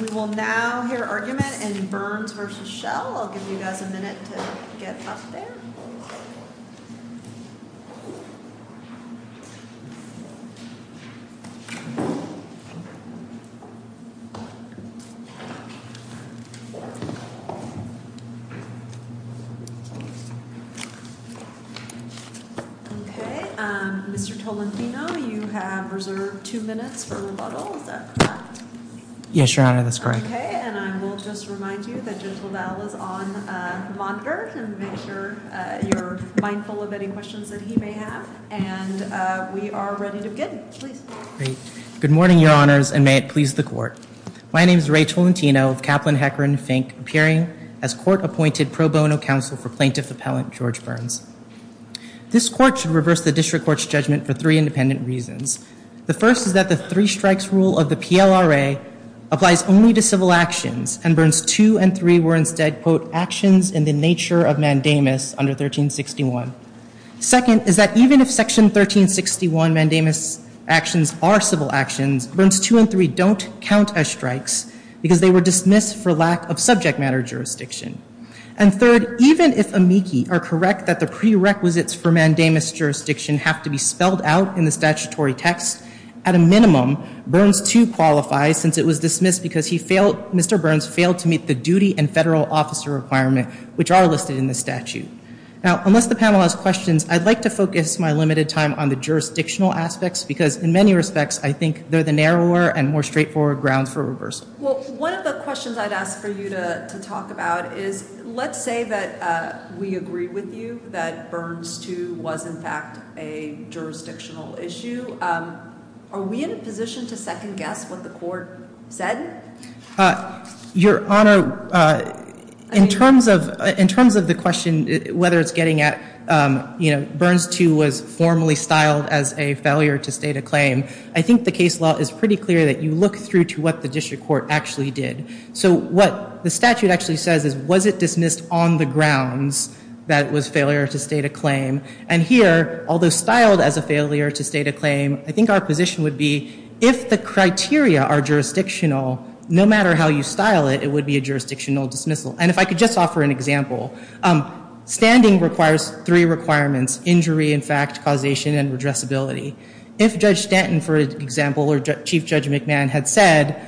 We will now hear argument in Burns v. Schell. I'll give you guys a minute to get up there. Okay, Mr. Tolentino, you have reserved two minutes for rebuttal. Yes, Your Honor, that's correct. Good morning, Your Honors, and may it please the Court. My name is Rachel Tolentino of Kaplan, Hecker, and Fink, appearing as Court-Appointed Pro Bono Counsel for Plaintiff Appellant George Burns. This Court should reverse the District Court's judgment for three independent reasons. The first is that the three-strikes rule of the PLRA applies only to civil actions, and Burns 2 and 3 were instead, quote, actions in the nature of mandamus under 1361. Second is that even if Section 1361 mandamus actions are civil actions, Burns 2 and 3 don't count as strikes because they were dismissed for lack of subject matter jurisdiction. And third, even if amici are correct that the prerequisites for mandamus jurisdiction have to be spelled out in the statutory text, at a minimum, Burns 2 qualifies since it was dismissed because he failed, Mr. Burns failed to meet the duty and federal officer requirement which are listed in the statute. Now, unless the panel has questions, I'd like to focus my limited time on the jurisdictional aspects because, in many respects, I think they're the narrower and more straightforward grounds for reversal. Well, one of the questions I'd ask for you to talk about is, let's say that we agree with you that Burns 2 was, in fact, a jurisdictional issue. Are we in a position to second-guess what the Court said? Your Honor, in terms of the question whether it's getting at, you know, Burns 2 was formally styled as a failure to state a claim, I think the case law is pretty clear that you look through to what the district court actually did. So what the statute actually says is, was it dismissed on the grounds that it was failure to state a claim? And here, although styled as a failure to state a claim, I think our position would be, if the criteria are jurisdictional, no matter how you style it, it would be a jurisdictional dismissal. And if I could just offer an example, standing requires three requirements, injury in fact, causation, and redressability. If Judge Stanton, for example, or Chief Judge McMahon had said,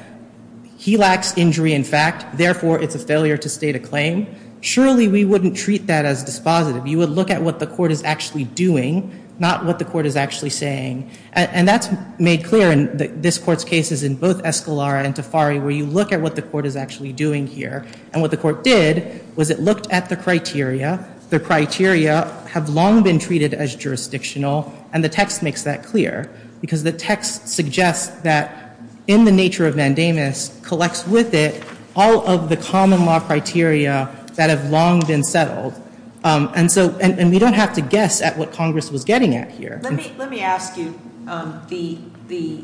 he lacks injury in fact, therefore it's a failure to state a claim, surely we wouldn't treat that as dispositive. You would look at what the Court is actually doing, not what the Court is actually saying. And that's made clear in this Court's cases in both Escalara and Tafari, where you look at what the Court is actually doing here. And what the Court did was it looked at the criteria. The criteria have long been treated as jurisdictional, and the text makes that clear. Because the text suggests that, in the nature of mandamus, collects with it all of the common law criteria that have long been settled. And we don't have to guess at what Congress was getting at here. Let me ask you, the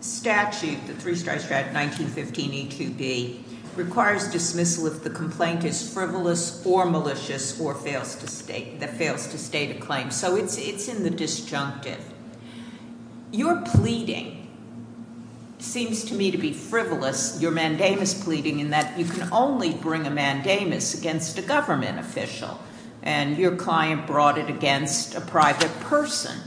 statute, the three-star statute, 1915 E2B, requires dismissal if the complaint is frivolous or malicious or fails to state a claim. So it's in the disjunctive. Your pleading seems to me to be frivolous, your mandamus pleading, in that you can only bring a mandamus against a government official. And your client brought it against a private person.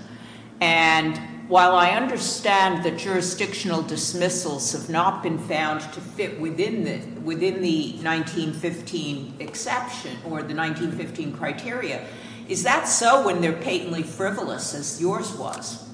And while I understand that jurisdictional dismissals have not been found to fit within the 1915 exception or the 1915 criteria. Is that so when they're patently frivolous, as yours was?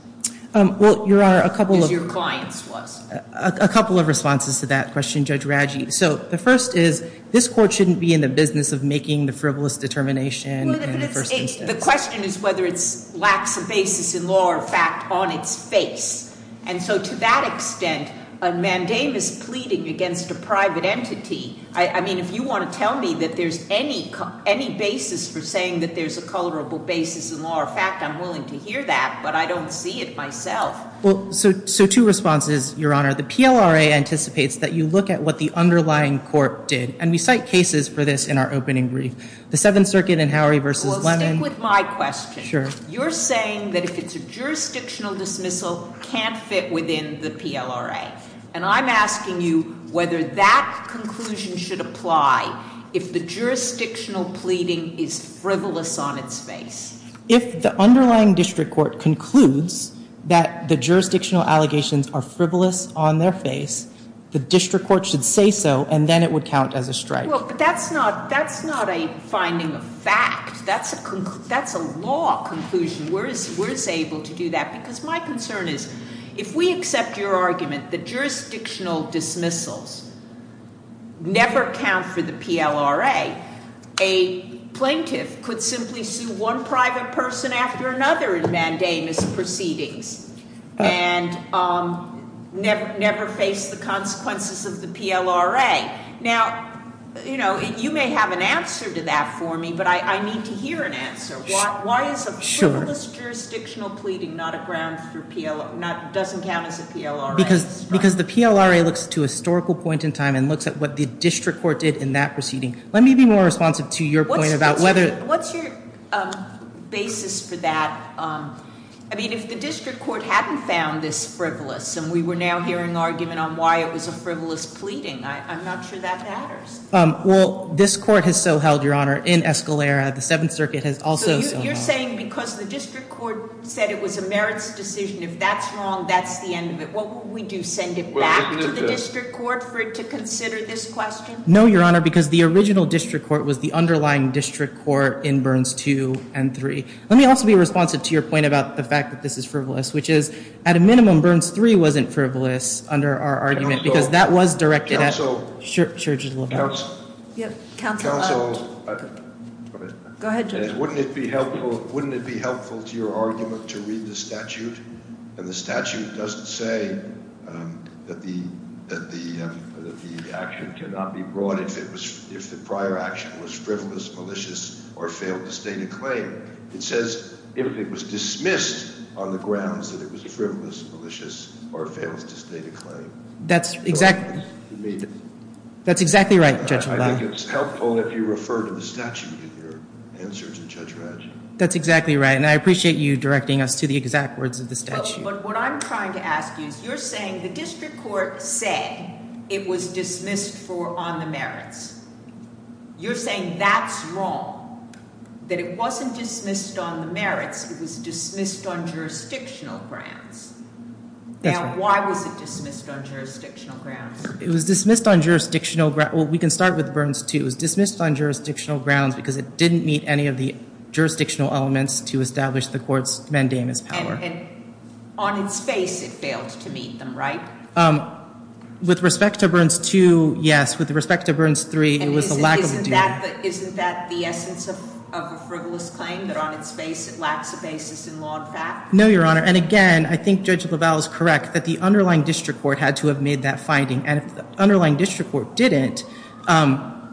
Well, Your Honor, a couple of- As your client's was. A couple of responses to that question, Judge Raggi. So the first is, this Court shouldn't be in the business of making the frivolous determination in the first instance. The question is whether it lacks a basis in law or fact on its face. And so to that extent, a mandamus pleading against a private entity, I mean, if you want to tell me that there's any basis for saying that there's a colorable basis in law or fact, I'm willing to hear that, but I don't see it myself. Well, so two responses, Your Honor. The PLRA anticipates that you look at what the underlying court did. And we cite cases for this in our opening brief. The Seventh Circuit in Howery v. Lemon- Well, stick with my question. Sure. You're saying that if it's a jurisdictional dismissal, can't fit within the PLRA. And I'm asking you whether that conclusion should apply if the jurisdictional pleading is frivolous on its face. If the underlying district court concludes that the jurisdictional allegations are frivolous on their face, the district court should say so, and then it would count as a strike. Well, but that's not a finding of fact. That's a law conclusion. We're able to do that because my concern is if we accept your argument that jurisdictional dismissals never count for the PLRA, a plaintiff could simply sue one private person after another in mandamus proceedings and never face the consequences of the PLRA. Now, you may have an answer to that for me, but I need to hear an answer. Why is a frivolous jurisdictional pleading not a ground for PLRA, doesn't count as a PLRA strike? Because the PLRA looks to a historical point in time and looks at what the district court did in that proceeding. Let me be more responsive to your point about whether- What's your basis for that? I mean, if the district court hadn't found this frivolous and we were now hearing argument on why it was a frivolous pleading, I'm not sure that matters. Well, this court has so held, Your Honor, in Escalera. The Seventh Circuit has also so held. So you're saying because the district court said it was a merits decision, if that's wrong, that's the end of it. What would we do, send it back to the district court for it to consider this question? No, Your Honor, because the original district court was the underlying district court in Burns 2 and 3. Let me also be responsive to your point about the fact that this is frivolous, which is, at a minimum, Burns 3 wasn't frivolous under our argument because that was directed at- Counsel, wouldn't it be helpful to your argument to read the statute? And the statute doesn't say that the action cannot be brought if the prior action was frivolous, malicious, or failed to state a claim. It says if it was dismissed on the grounds that it was frivolous, malicious, or failed to state a claim. That's exactly right, Judge LaValle. I think it's helpful if you refer to the statute in your answer to Judge Ratchett. That's exactly right, and I appreciate you directing us to the exact words of the statute. But what I'm trying to ask you is you're saying the district court said it was dismissed on the merits. You're saying that's wrong, that it wasn't dismissed on the merits. It was dismissed on jurisdictional grounds. Now, why was it dismissed on jurisdictional grounds? It was dismissed on jurisdictional grounds. Well, we can start with Burns 2. It was dismissed on jurisdictional grounds because it didn't meet any of the jurisdictional elements to establish the court's mandamus power. And on its face, it failed to meet them, right? With respect to Burns 2, yes. With respect to Burns 3, it was a lack of a duty. And isn't that the essence of a frivolous claim, that on its face it lacks a basis in law and fact? No, Your Honor. And again, I think Judge LaValle is correct that the underlying district court had to have made that finding. And if the underlying district court didn't,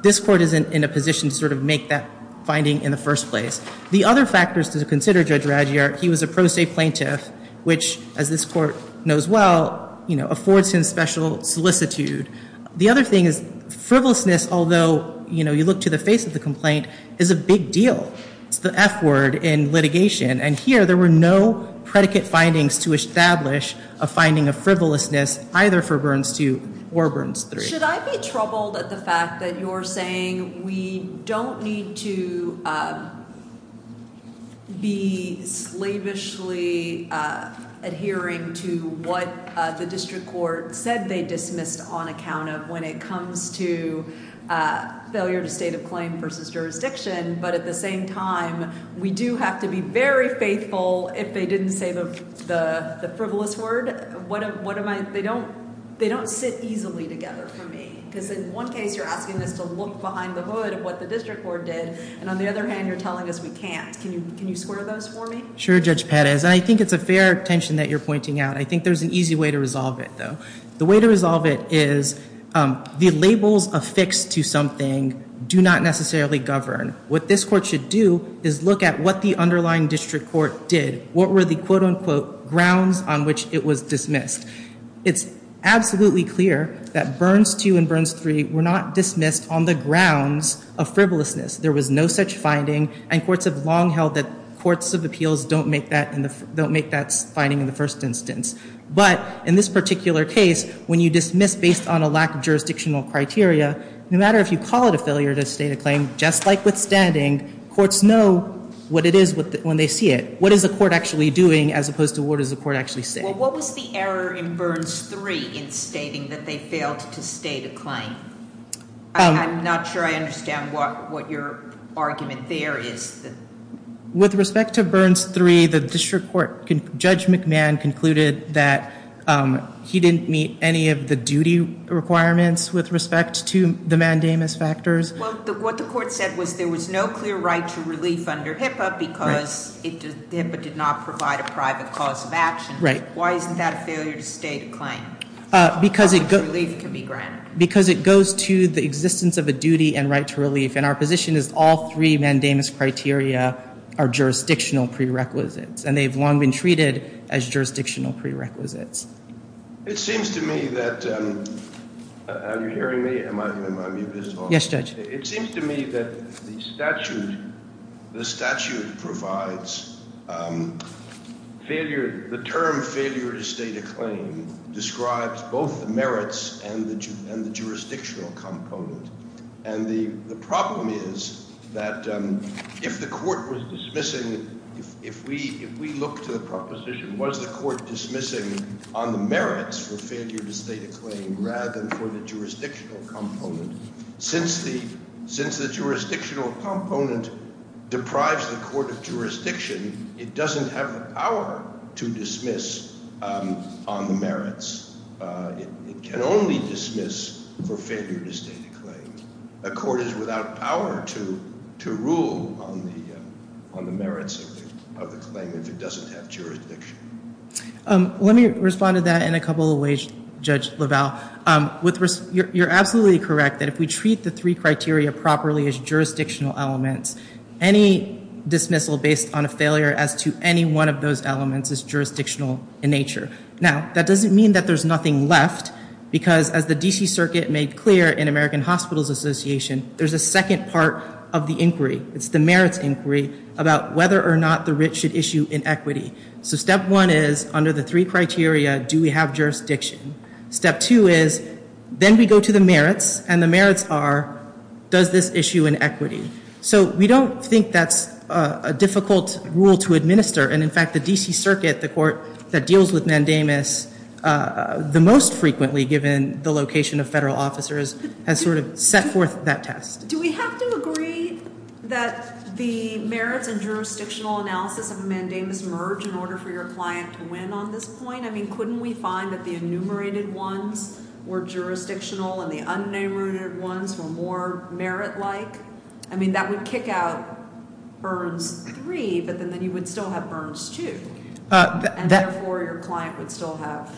this court isn't in a position to sort of make that finding in the first place. The other factors to consider, Judge Raggiart, he was a pro se plaintiff, which, as this court knows well, affords him special solicitude. The other thing is frivolousness, although you look to the face of the complaint, is a big deal. It's the F word in litigation. And here, there were no predicate findings to establish a finding of frivolousness, either for Burns 2 or Burns 3. Should I be troubled at the fact that you're saying we don't need to be slavishly adhering to what the district court said they dismissed on account of when it comes to failure to state a claim versus jurisdiction, but at the same time, we do have to be very faithful if they didn't say the frivolous word? They don't sit easily together for me. Because in one case, you're asking us to look behind the hood of what the district court did. And on the other hand, you're telling us we can't. Can you square those for me? Sure, Judge Patez. And I think it's a fair tension that you're pointing out. I think there's an easy way to resolve it, though. The way to resolve it is the labels affixed to something do not necessarily govern. What this court should do is look at what the underlying district court did. What were the, quote unquote, grounds on which it was dismissed? It's absolutely clear that Burns 2 and Burns 3 were not dismissed on the grounds of frivolousness. There was no such finding. And courts have long held that courts of appeals don't make that finding in the first instance. But in this particular case, when you dismiss based on a lack of jurisdictional criteria, no matter if you call it a failure to state a claim, just like withstanding, courts know what it is when they see it. What is the court actually doing as opposed to what does the court actually say? Well, what was the error in Burns 3 in stating that they failed to state a claim? I'm not sure I understand what your argument there is. With respect to Burns 3, the district court, Judge McMahon, concluded that he didn't meet any of the duty requirements with respect to the mandamus factors. Well, what the court said was there was no clear right to relief under HIPAA because HIPAA did not provide a private cause of action. Why isn't that a failure to state a claim? Because it goes to the existence of a duty and right to relief. And our position is all three mandamus criteria are jurisdictional prerequisites, and they've long been treated as jurisdictional prerequisites. It seems to me that the statute provides the term failure to state a claim describes both the merits and the jurisdictional component. And the problem is that if the court was dismissing, if we look to the proposition, was the court dismissing on the merits for failure to state a claim rather than for the jurisdictional component? Since the jurisdictional component deprives the court of jurisdiction, it doesn't have the power to dismiss on the merits. It can only dismiss for failure to state a claim. A court is without power to rule on the merits of the claim if it doesn't have jurisdiction. Let me respond to that in a couple of ways, Judge LaValle. You're absolutely correct that if we treat the three criteria properly as jurisdictional elements, any dismissal based on a failure as to any one of those elements is jurisdictional in nature. Now, that doesn't mean that there's nothing left, because as the D.C. Circuit made clear in American Hospitals Association, there's a second part of the inquiry. It's the merits inquiry about whether or not the writ should issue inequity. So step one is, under the three criteria, do we have jurisdiction? Step two is, then we go to the merits, and the merits are, does this issue inequity? So we don't think that's a difficult rule to administer. And, in fact, the D.C. Circuit, the court that deals with mandamus the most frequently, given the location of federal officers, has sort of set forth that test. Do we have to agree that the merits and jurisdictional analysis of a mandamus merge in order for your client to win on this point? I mean, couldn't we find that the enumerated ones were jurisdictional and the unenumerated ones were more merit-like? I mean, that would kick out burns three, but then you would still have burns two. And, therefore, your client would still have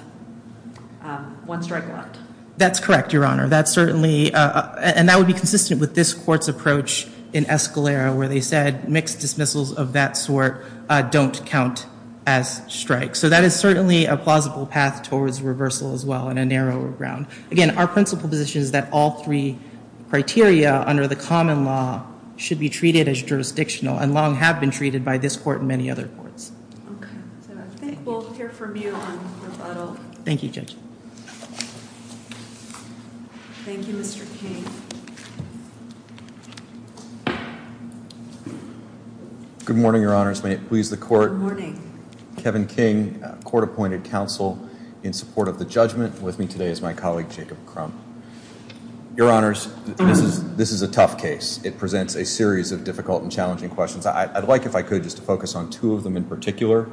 one strike left. That's correct, Your Honor. That certainly – and that would be consistent with this court's approach in Escalera, where they said mixed dismissals of that sort don't count as strikes. So that is certainly a plausible path towards reversal as well in a narrower ground. Again, our principal position is that all three criteria under the common law should be treated as jurisdictional and long have been treated by this court and many other courts. Okay. So I think we'll hear from you on rebuttal. Thank you, Judge. Thank you, Mr. King. Good morning, Your Honors. May it please the Court. Good morning. Kevin King, court-appointed counsel in support of the judgment. With me today is my colleague, Jacob Crump. Your Honors, this is a tough case. It presents a series of difficult and challenging questions. I'd like, if I could, just to focus on two of them in particular.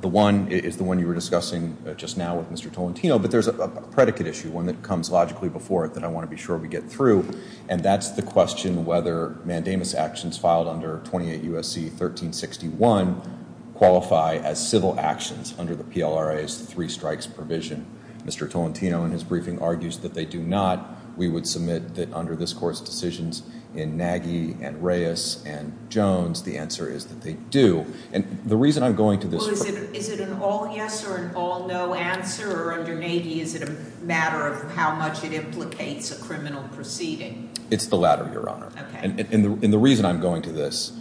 The one is the one you were discussing just now with Mr. Tolentino, but there's a predicate issue, one that comes logically before it that I want to be sure we get through, and that's the question whether mandamus actions filed under 28 U.S.C. 1361 qualify as civil actions under the PLRA's three-strikes provision. Mr. Tolentino, in his briefing, argues that they do not. We would submit that under this Court's decisions in Nagy and Reyes and Jones, the answer is that they do. And the reason I'm going to this question— Well, is it an all-yes or an all-no answer? Or under Nagy, is it a matter of how much it implicates a criminal proceeding? It's the latter, Your Honor. Okay. And the reason I'm going to this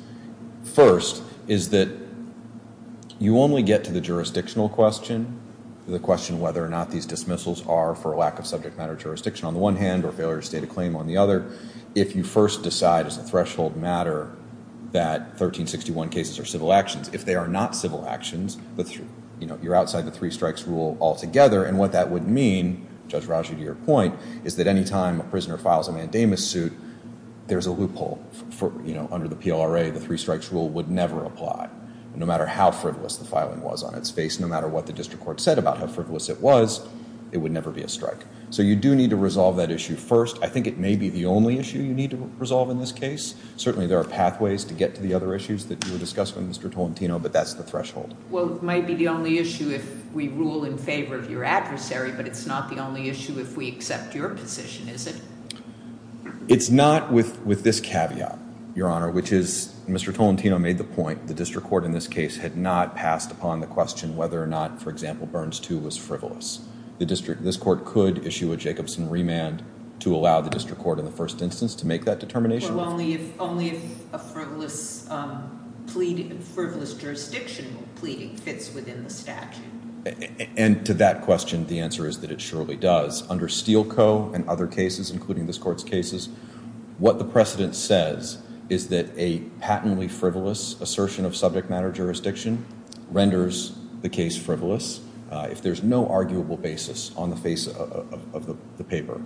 first is that you only get to the jurisdictional question, the question of whether or not these dismissals are for a lack of subject matter jurisdiction on the one hand or failure to state a claim on the other, if you first decide as a threshold matter that 1361 cases are civil actions. If they are not civil actions, you're outside the three-strikes rule altogether, and what that would mean, Judge Raju, to your point, is that any time a prisoner files a mandamus suit, there's a loophole. Under the PLRA, the three-strikes rule would never apply. No matter how frivolous the filing was on its face, no matter what the district court said about how frivolous it was, it would never be a strike. So you do need to resolve that issue first. I think it may be the only issue you need to resolve in this case. Certainly there are pathways to get to the other issues that you were discussing with Mr. Tolentino, but that's the threshold. Well, it might be the only issue if we rule in favor of your adversary, but it's not the only issue if we accept your position, is it? It's not with this caveat, Your Honor, which is Mr. Tolentino made the point the district court in this case had not passed upon the question whether or not, for example, Burns II was frivolous. This court could issue a Jacobson remand to allow the district court in the first instance to make that determination. Well, only if a frivolous jurisdiction pleading fits within the statute. And to that question, the answer is that it surely does. Under Steele Co. and other cases, including this court's cases, what the precedent says is that a patently frivolous assertion of subject matter jurisdiction renders the case frivolous. If there's no arguable basis on the face of the paper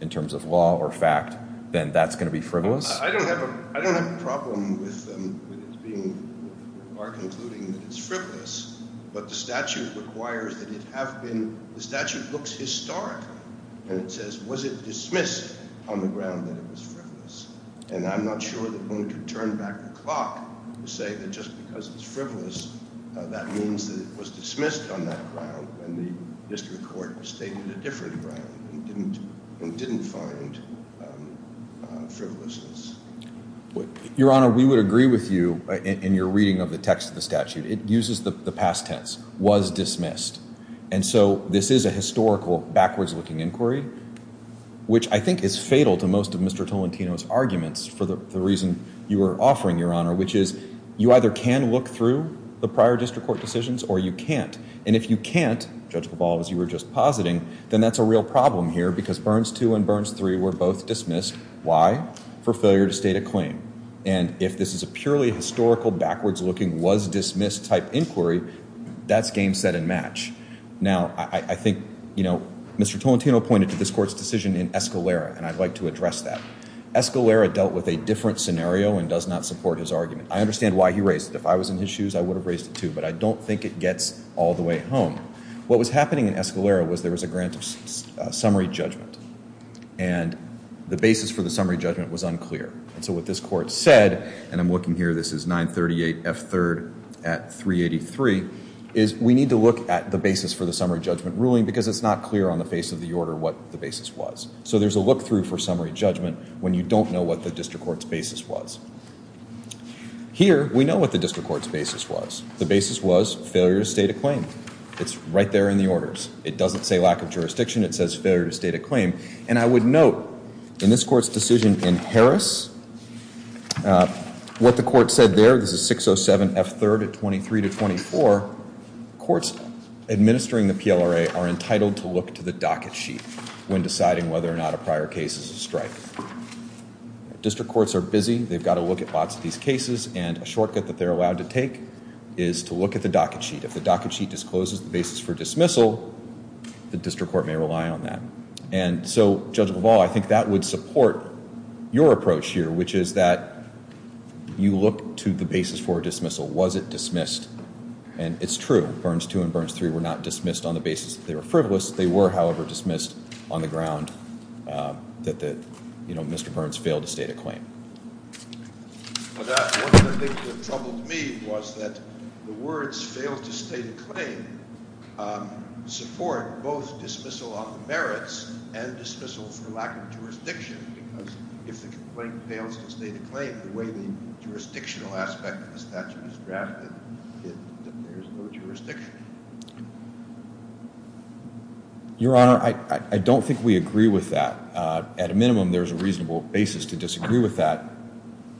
in terms of law or fact, then that's going to be frivolous? I don't have a problem with it being, or concluding that it's frivolous, but the statute requires that it have been, the statute looks historically, and it says, was it dismissed on the ground that it was frivolous? And I'm not sure that one could turn back the clock and say that just because it's frivolous, that means that it was dismissed on that ground when the district court stated a different ground and didn't find frivolousness. Your Honor, we would agree with you in your reading of the text of the statute. It uses the past tense, was dismissed. And so this is a historical, backwards-looking inquiry, which I think is fatal to most of Mr. Tolentino's arguments for the reason you were offering, Your Honor, which is you either can look through the prior district court decisions or you can't. And if you can't, Judge Pavlov, as you were just positing, then that's a real problem here because Burns 2 and Burns 3 were both dismissed. Why? For failure to state a claim. And if this is a purely historical, backwards-looking, was-dismissed type inquiry, that's game, set, and match. Now, I think, you know, Mr. Tolentino pointed to this court's decision in Escalera, and I'd like to address that. Escalera dealt with a different scenario and does not support his argument. I understand why he raised it. If I was in his shoes, I would have raised it too, but I don't think it gets all the way home. What was happening in Escalera was there was a grant of summary judgment, and the basis for the summary judgment was unclear. And so what this court said, and I'm looking here, this is 938F3rd at 383, is we need to look at the basis for the summary judgment ruling because it's not clear on the face of the order what the basis was. So there's a look-through for summary judgment when you don't know what the district court's basis was. Here, we know what the district court's basis was. The basis was failure to state a claim. It's right there in the orders. It doesn't say lack of jurisdiction. It says failure to state a claim. And I would note in this court's decision in Harris, what the court said there, this is 607F3rd at 23 to 24, courts administering the PLRA are entitled to look to the docket sheet when deciding whether or not a prior case is a strike. District courts are busy. They've got to look at lots of these cases, and a shortcut that they're allowed to take is to look at the docket sheet. If the docket sheet discloses the basis for dismissal, the district court may rely on that. And so, Judge LaValle, I think that would support your approach here, which is that you look to the basis for dismissal. Was it dismissed? And it's true. Burns 2 and Burns 3 were not dismissed on the basis that they were frivolous. They were, however, dismissed on the ground that Mr. Burns failed to state a claim. One of the things that troubled me was that the words failed to state a claim support both dismissal on the merits and dismissal for lack of jurisdiction, because if the complaint fails to state a claim, the way the jurisdictional aspect of the statute is drafted, there's no jurisdiction. Your Honor, I don't think we agree with that. At a minimum, there's a reasonable basis to disagree with that.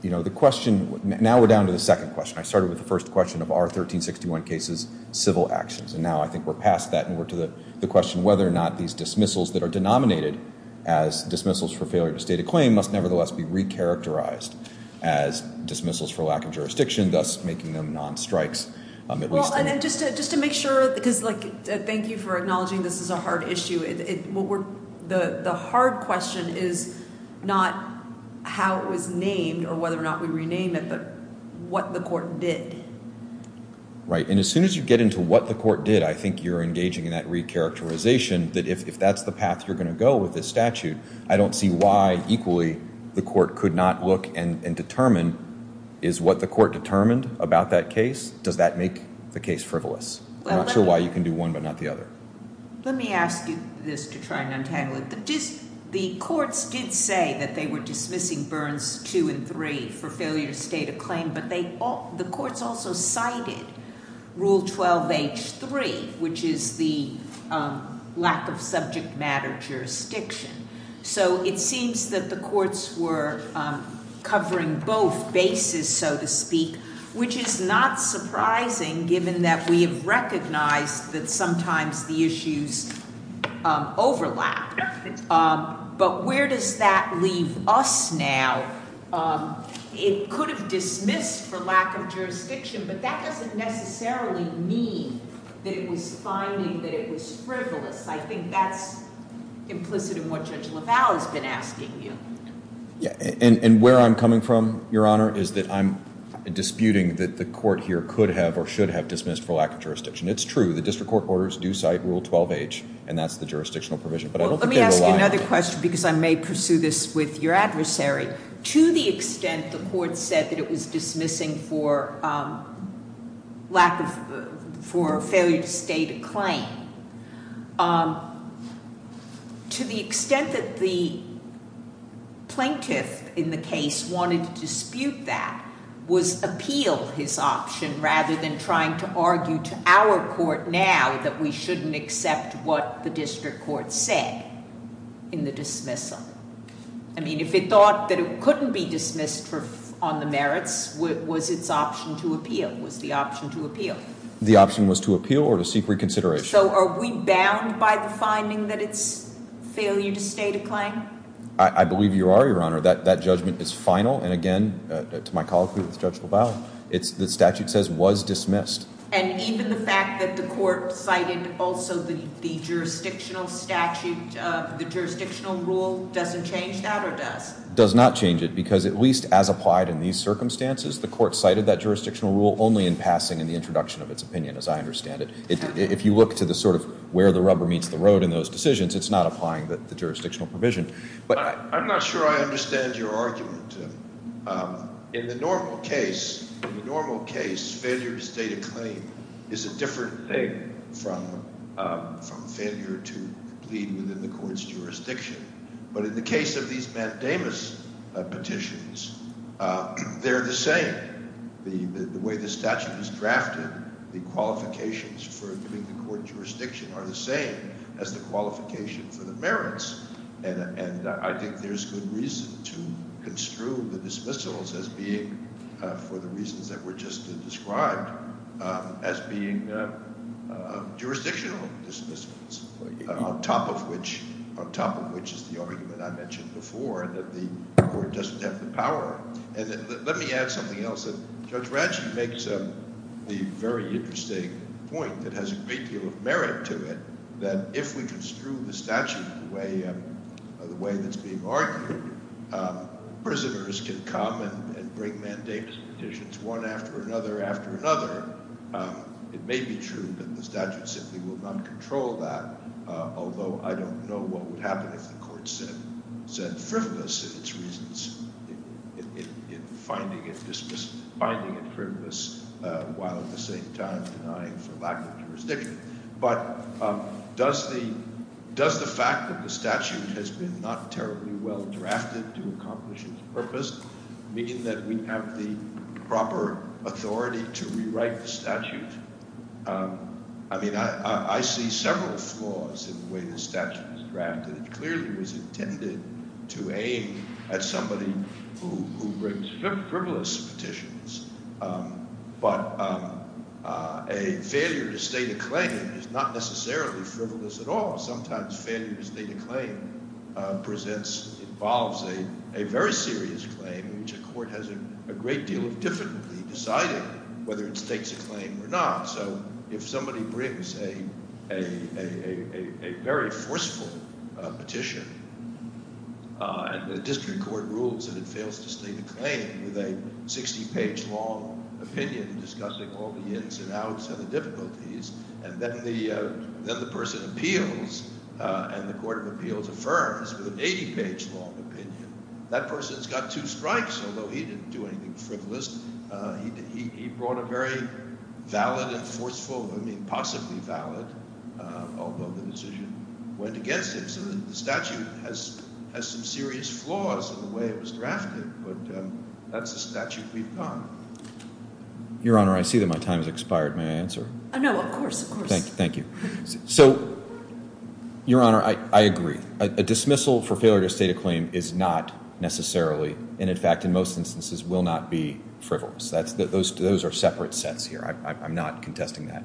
Now we're down to the second question. I started with the first question of are 1361 cases civil actions? And now I think we're past that and we're to the question whether or not these dismissals that are denominated as dismissals for failure to state a claim must nevertheless be recharacterized as dismissals for lack of jurisdiction, thus making them non-strikes. Just to make sure, because thank you for acknowledging this is a hard issue. The hard question is not how it was named or whether or not we rename it, but what the court did. Right, and as soon as you get into what the court did, I think you're engaging in that recharacterization, that if that's the path you're going to go with this statute, I don't see why equally the court could not look and determine is what the court determined about that case, does that make the case frivolous? I'm not sure why you can do one but not the other. Let me ask you this to try and untangle it. The courts did say that they were dismissing Burns 2 and 3 for failure to state a claim, but the courts also cited Rule 12H3, which is the lack of subject matter jurisdiction. So it seems that the courts were covering both bases, so to speak, which is not surprising given that we have recognized that sometimes the issues overlap. But where does that leave us now? It could have dismissed for lack of jurisdiction, but that doesn't necessarily mean that it was finding that it was frivolous. I think that's implicit in what Judge LaValle has been asking you. And where I'm coming from, Your Honor, is that I'm disputing that the court here could have or should have dismissed for lack of jurisdiction. It's true, the district court orders do cite Rule 12H, and that's the jurisdictional provision. Let me ask you another question because I may pursue this with your adversary. To the extent the court said that it was dismissing for failure to state a claim, to the extent that the plaintiff in the case wanted to dispute that was appeal his option rather than trying to argue to our court now that we shouldn't accept what the district court said in the dismissal. I mean, if it thought that it couldn't be dismissed on the merits, was its option to appeal? Was the option to appeal? The option was to appeal or to seek reconsideration. So are we bound by the finding that it's failure to state a claim? I believe you are, Your Honor. That judgment is final, and again, to my colloquy with Judge LaValle, the statute says was dismissed. And even the fact that the court cited also the jurisdictional statute, the jurisdictional rule, doesn't change that or does? Does not change it because at least as applied in these circumstances, the court cited that jurisdictional rule only in passing in the introduction of its opinion, as I understand it. If you look to the sort of where the rubber meets the road in those decisions, it's not applying the jurisdictional provision. But I'm not sure I understand your argument. In the normal case, failure to state a claim is a different thing from failure to plead within the court's jurisdiction. But in the case of these mandamus petitions, they're the same. The way the statute is drafted, the qualifications for giving the court jurisdiction are the same as the qualification for the merits. And I think there's good reason to construe the dismissals as being, for the reasons that were just described, as being jurisdictional dismissals. On top of which is the argument I mentioned before, that the court doesn't have the power. And let me add something else. Judge Ranchi makes the very interesting point that has a great deal of merit to it, that if we construe the statute the way that's being argued, prisoners can come and bring mandamus petitions one after another after another. It may be true that the statute simply will not control that, although I don't know what would happen if the court said frivolous in its reasons. In finding it frivolous while at the same time denying for lack of jurisdiction. But does the fact that the statute has been not terribly well drafted to accomplish its purpose mean that we have the proper authority to rewrite the statute? I mean, I see several flaws in the way the statute is drafted. It clearly was intended to aim at somebody who brings frivolous petitions. But a failure to state a claim is not necessarily frivolous at all. Sometimes failure to state a claim presents, involves a very serious claim which a court has a great deal of difficulty deciding whether it states a claim or not. So if somebody brings a very forceful petition and the district court rules that it fails to state a claim with a 60-page long opinion discussing all the ins and outs and the difficulties, and then the person appeals and the court of appeals affirms with an 80-page long opinion, that person's got two strikes. Although he didn't do anything frivolous. He brought a very valid and forceful, I mean possibly valid, although the decision went against him. So the statute has some serious flaws in the way it was drafted. But that's the statute we've got. Your Honor, I see that my time has expired. May I answer? No, of course, of course. Thank you. So, Your Honor, I agree. A dismissal for failure to state a claim is not necessarily, and in fact in most instances, will not be frivolous. Those are separate sets here. I'm not contesting that.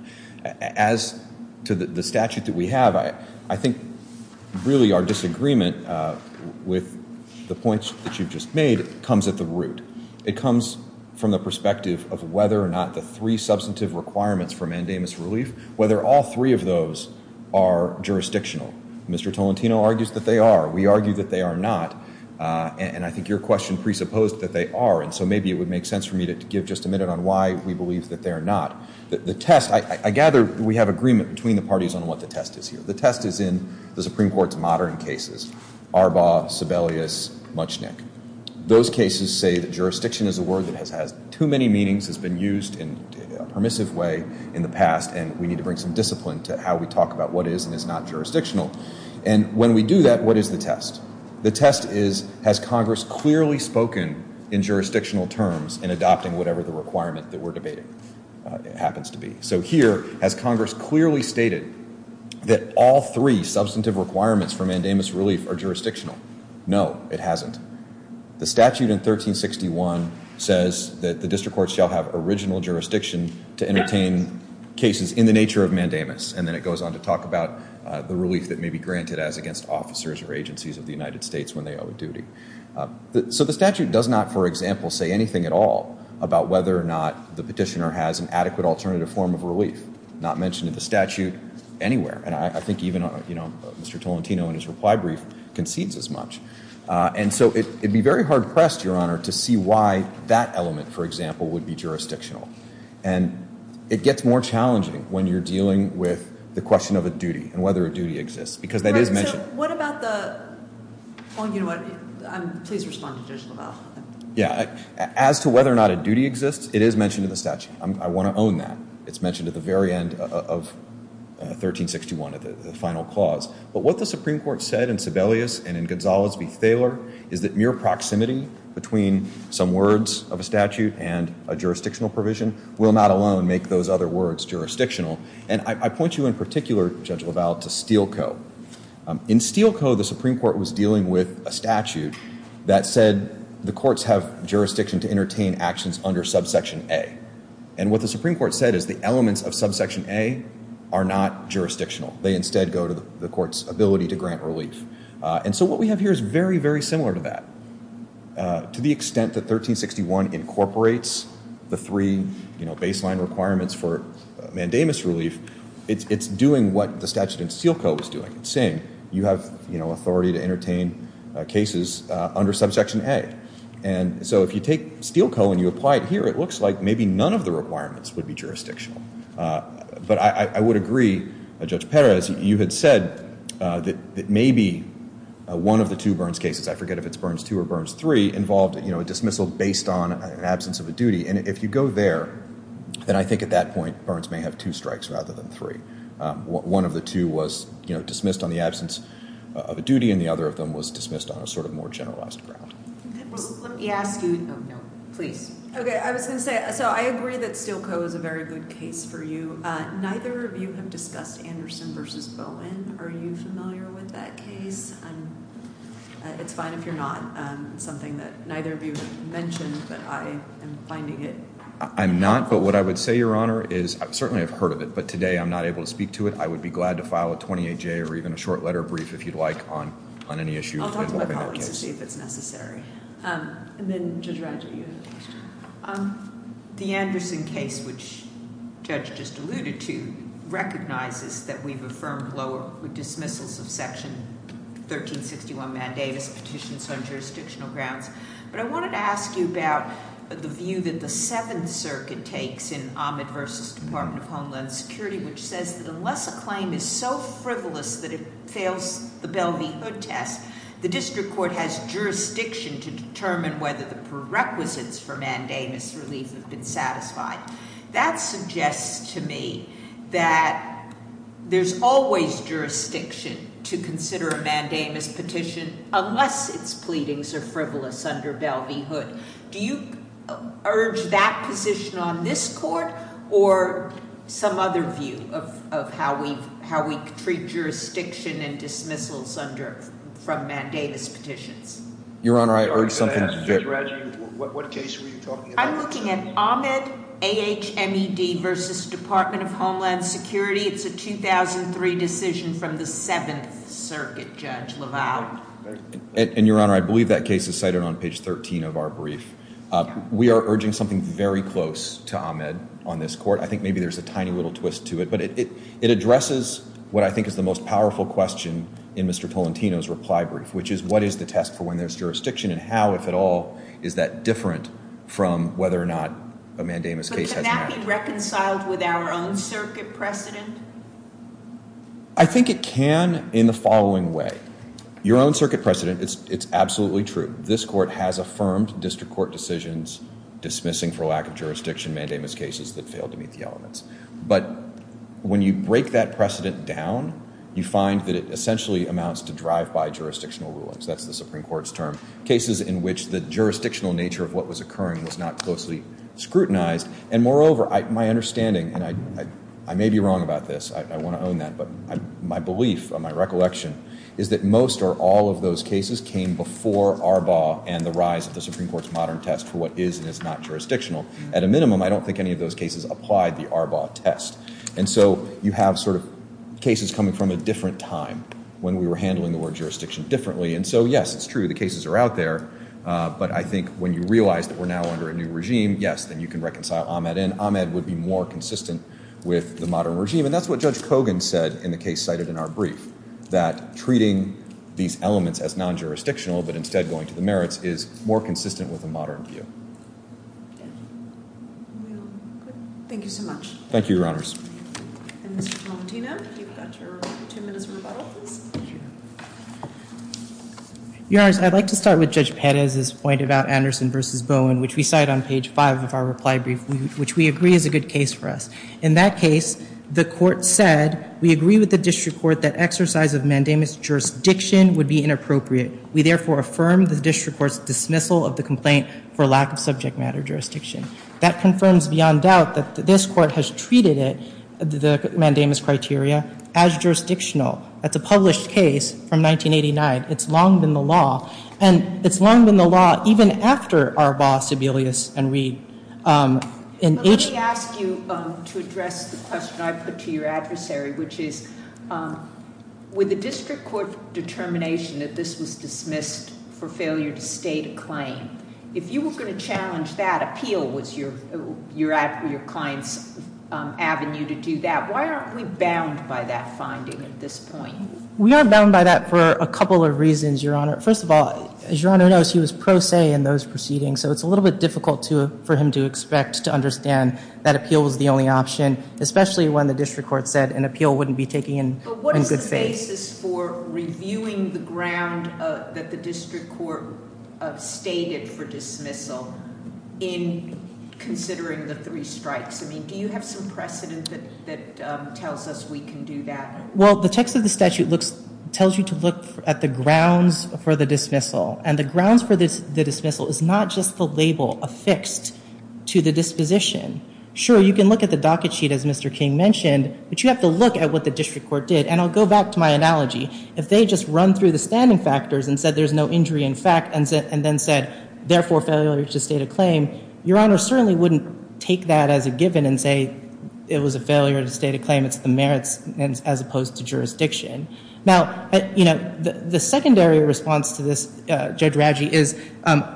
As to the statute that we have, I think really our disagreement with the points that you've just made comes at the root. It comes from the perspective of whether or not the three substantive requirements for mandamus relief, whether all three of those are jurisdictional. Mr. Tolentino argues that they are. We argue that they are not. And I think your question presupposed that they are. And so maybe it would make sense for me to give just a minute on why we believe that they are not. The test, I gather we have agreement between the parties on what the test is here. The test is in the Supreme Court's modern cases, Arbaugh, Sebelius, Muchnick. Those cases say that jurisdiction is a word that has too many meanings, has been used in a permissive way in the past, and we need to bring some discipline to how we talk about what is and is not jurisdictional. And when we do that, what is the test? The test is, has Congress clearly spoken in jurisdictional terms in adopting whatever the requirement that we're debating happens to be? So here, has Congress clearly stated that all three substantive requirements for mandamus relief are jurisdictional? No, it hasn't. The statute in 1361 says that the district courts shall have original jurisdiction to entertain cases in the nature of mandamus, and then it goes on to talk about the relief that may be granted as against officers or agencies of the United States when they owe a duty. So the statute does not, for example, say anything at all about whether or not the petitioner has an adequate alternative form of relief, not mentioned in the statute anywhere. And I think even, you know, Mr. Tolentino in his reply brief concedes as much. And so it would be very hard-pressed, Your Honor, to see why that element, for example, would be jurisdictional. And it gets more challenging when you're dealing with the question of a duty and whether a duty exists, because that is mentioned. Right, so what about the – well, you know what, please respond to Judge LaValle. Yeah, as to whether or not a duty exists, it is mentioned in the statute. I want to own that. It's mentioned at the very end of 1361, the final clause. But what the Supreme Court said in Sibelius and in Gonzales v. Thaler is that mere proximity between some words of a statute and a jurisdictional provision will not alone make those other words jurisdictional. And I point you in particular, Judge LaValle, to Steel Co. In Steel Co., the Supreme Court was dealing with a statute that said the courts have jurisdiction to entertain actions under subsection A. And what the Supreme Court said is the elements of subsection A are not jurisdictional. They instead go to the court's ability to grant relief. And so what we have here is very, very similar to that. To the extent that 1361 incorporates the three baseline requirements for mandamus relief, it's doing what the statute in Steel Co. was doing. It's saying you have authority to entertain cases under subsection A. And so if you take Steel Co. and you apply it here, it looks like maybe none of the requirements would be jurisdictional. But I would agree, Judge Perez, you had said that maybe one of the two Burns cases, I forget if it's Burns II or Burns III, involved a dismissal based on an absence of a duty. And if you go there, then I think at that point Burns may have two strikes rather than three. One of the two was dismissed on the absence of a duty, and the other of them was dismissed on a sort of more generalized ground. Let me ask you, please. Okay, I was going to say, so I agree that Steel Co. is a very good case for you. Neither of you have discussed Anderson v. Bowen. Are you familiar with that case? It's fine if you're not. It's something that neither of you have mentioned, but I am finding it. I'm not. But what I would say, Your Honor, is I certainly have heard of it, but today I'm not able to speak to it. I would be glad to file a 28-J or even a short letter brief, if you'd like, on any issue involving that case. I'll talk to my colleagues to see if it's necessary. And then, Judge Rodger, you had a question. The Anderson case, which Judge just alluded to, recognizes that we've affirmed lower dismissals of Section 1361 Mandates, petitions on jurisdictional grounds. But I wanted to ask you about the view that the Seventh Circuit takes in Ahmed v. Department of Homeland Security, which says that unless a claim is so frivolous that it fails the Belle v. Hood test, the district court has jurisdiction to determine whether the prerequisites for mandamus relief have been satisfied. That suggests to me that there's always jurisdiction to consider a mandamus petition unless its pleadings are frivolous under Belle v. Hood. Do you urge that position on this court or some other view of how we treat jurisdiction and dismissals from mandamus petitions? Your Honor, I urge something different. Judge Rodger, what case were you talking about? I'm looking at Ahmed, A-H-M-E-D v. Department of Homeland Security. It's a 2003 decision from the Seventh Circuit, Judge LaValle. And, Your Honor, I believe that case is cited on page 13 of our brief. We are urging something very close to Ahmed on this court. I think maybe there's a tiny little twist to it. But it addresses what I think is the most powerful question in Mr. Tolentino's reply brief, which is what is the test for when there's jurisdiction and how, if at all, is that different from whether or not a mandamus case has met. But can that be reconciled with our own circuit precedent? I think it can in the following way. Your own circuit precedent, it's absolutely true. This court has affirmed district court decisions dismissing for lack of jurisdiction mandamus cases that failed to meet the elements. But when you break that precedent down, you find that it essentially amounts to drive-by jurisdictional rulings. That's the Supreme Court's term. Cases in which the jurisdictional nature of what was occurring was not closely scrutinized. And, moreover, my understanding, and I may be wrong about this. I want to own that. But my belief or my recollection is that most or all of those cases came before Arbaugh and the rise of the Supreme Court's modern test for what is and is not jurisdictional. At a minimum, I don't think any of those cases applied the Arbaugh test. And so you have sort of cases coming from a different time when we were handling the word jurisdiction differently. And so, yes, it's true. The cases are out there. But I think when you realize that we're now under a new regime, yes, then you can reconcile Ahmed in. Ahmed would be more consistent with the modern regime. And that's what Judge Kogan said in the case cited in our brief, that treating these elements as non-jurisdictional but instead going to the merits is more consistent with the modern view. Thank you so much. Thank you, Your Honors. And Mr. Tomatino, you've got your two minutes of rebuttal, please. Your Honors, I'd like to start with Judge Perez's point about Anderson v. Bowen, which we cite on page five of our reply brief, which we agree is a good case for us. In that case, the court said, we agree with the district court that exercise of mandamus jurisdiction would be inappropriate. We therefore affirm the district court's dismissal of the complaint for lack of subject matter jurisdiction. That confirms beyond doubt that this court has treated it, the mandamus criteria, as jurisdictional. That's a published case from 1989. It's long been the law. And it's long been the law even after Arbaugh, Sebelius, and Reid. But let me ask you to address the question I put to your adversary, which is, with the district court determination that this was dismissed for failure to state a claim, if you were going to challenge that, appeal was your client's avenue to do that. Why aren't we bound by that finding at this point? We are bound by that for a couple of reasons, Your Honor. First of all, as Your Honor knows, he was pro se in those proceedings, so it's a little bit difficult for him to expect to understand that appeal was the only option, especially when the district court said an appeal wouldn't be taken in good faith. But what is the basis for reviewing the ground that the district court stated for dismissal in considering the three strikes? I mean, do you have some precedent that tells us we can do that? Well, the text of the statute tells you to look at the grounds for the dismissal. And the grounds for the dismissal is not just the label affixed to the disposition. Sure, you can look at the docket sheet, as Mr. King mentioned, but you have to look at what the district court did. And I'll go back to my analogy. If they just run through the standing factors and said there's no injury in fact, and then said, therefore, failure to state a claim, Your Honor certainly wouldn't take that as a given and say it was a failure to state a claim. It's the merits as opposed to jurisdiction. Now, the secondary response to this, Judge Radji, is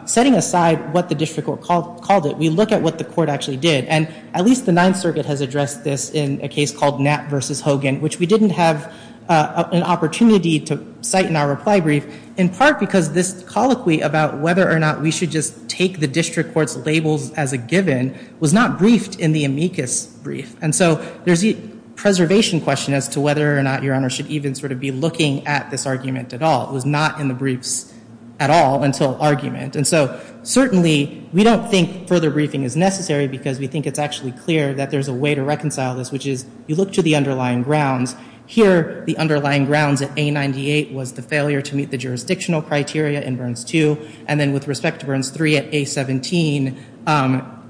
setting aside what the district court called it, we look at what the court actually did. And at least the Ninth Circuit has addressed this in a case called Knapp v. Hogan, which we didn't have an opportunity to cite in our reply brief, in part because this colloquy about whether or not we should just take the district court's labels as a given was not briefed in the amicus brief. And so there's a preservation question as to whether or not Your Honor should even sort of be looking at this argument at all. It was not in the briefs at all until argument. And so certainly we don't think further briefing is necessary because we think it's actually clear that there's a way to reconcile this, which is you look to the underlying grounds. Here the underlying grounds at A98 was the failure to meet the jurisdictional criteria in Burns II, and then with respect to Burns III at A17,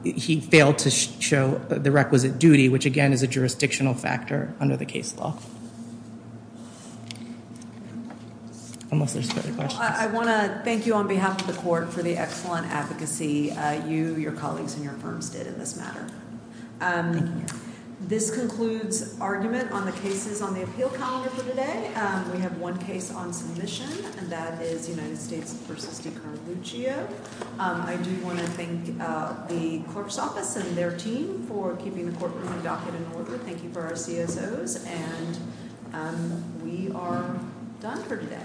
he failed to show the requisite duty, which again is a jurisdictional factor under the case law. Unless there's further questions. I want to thank you on behalf of the court for the excellent advocacy you, your colleagues, and your firms did in this matter. Thank you, Your Honor. This concludes argument on the cases on the appeal calendar for today. We have one case on submission, and that is United States v. DiCarlo Gio. I do want to thank the court's office and their team for keeping the courtroom and docket in order. Thank you for our CSOs. And we are done for today. The court stands adjourned.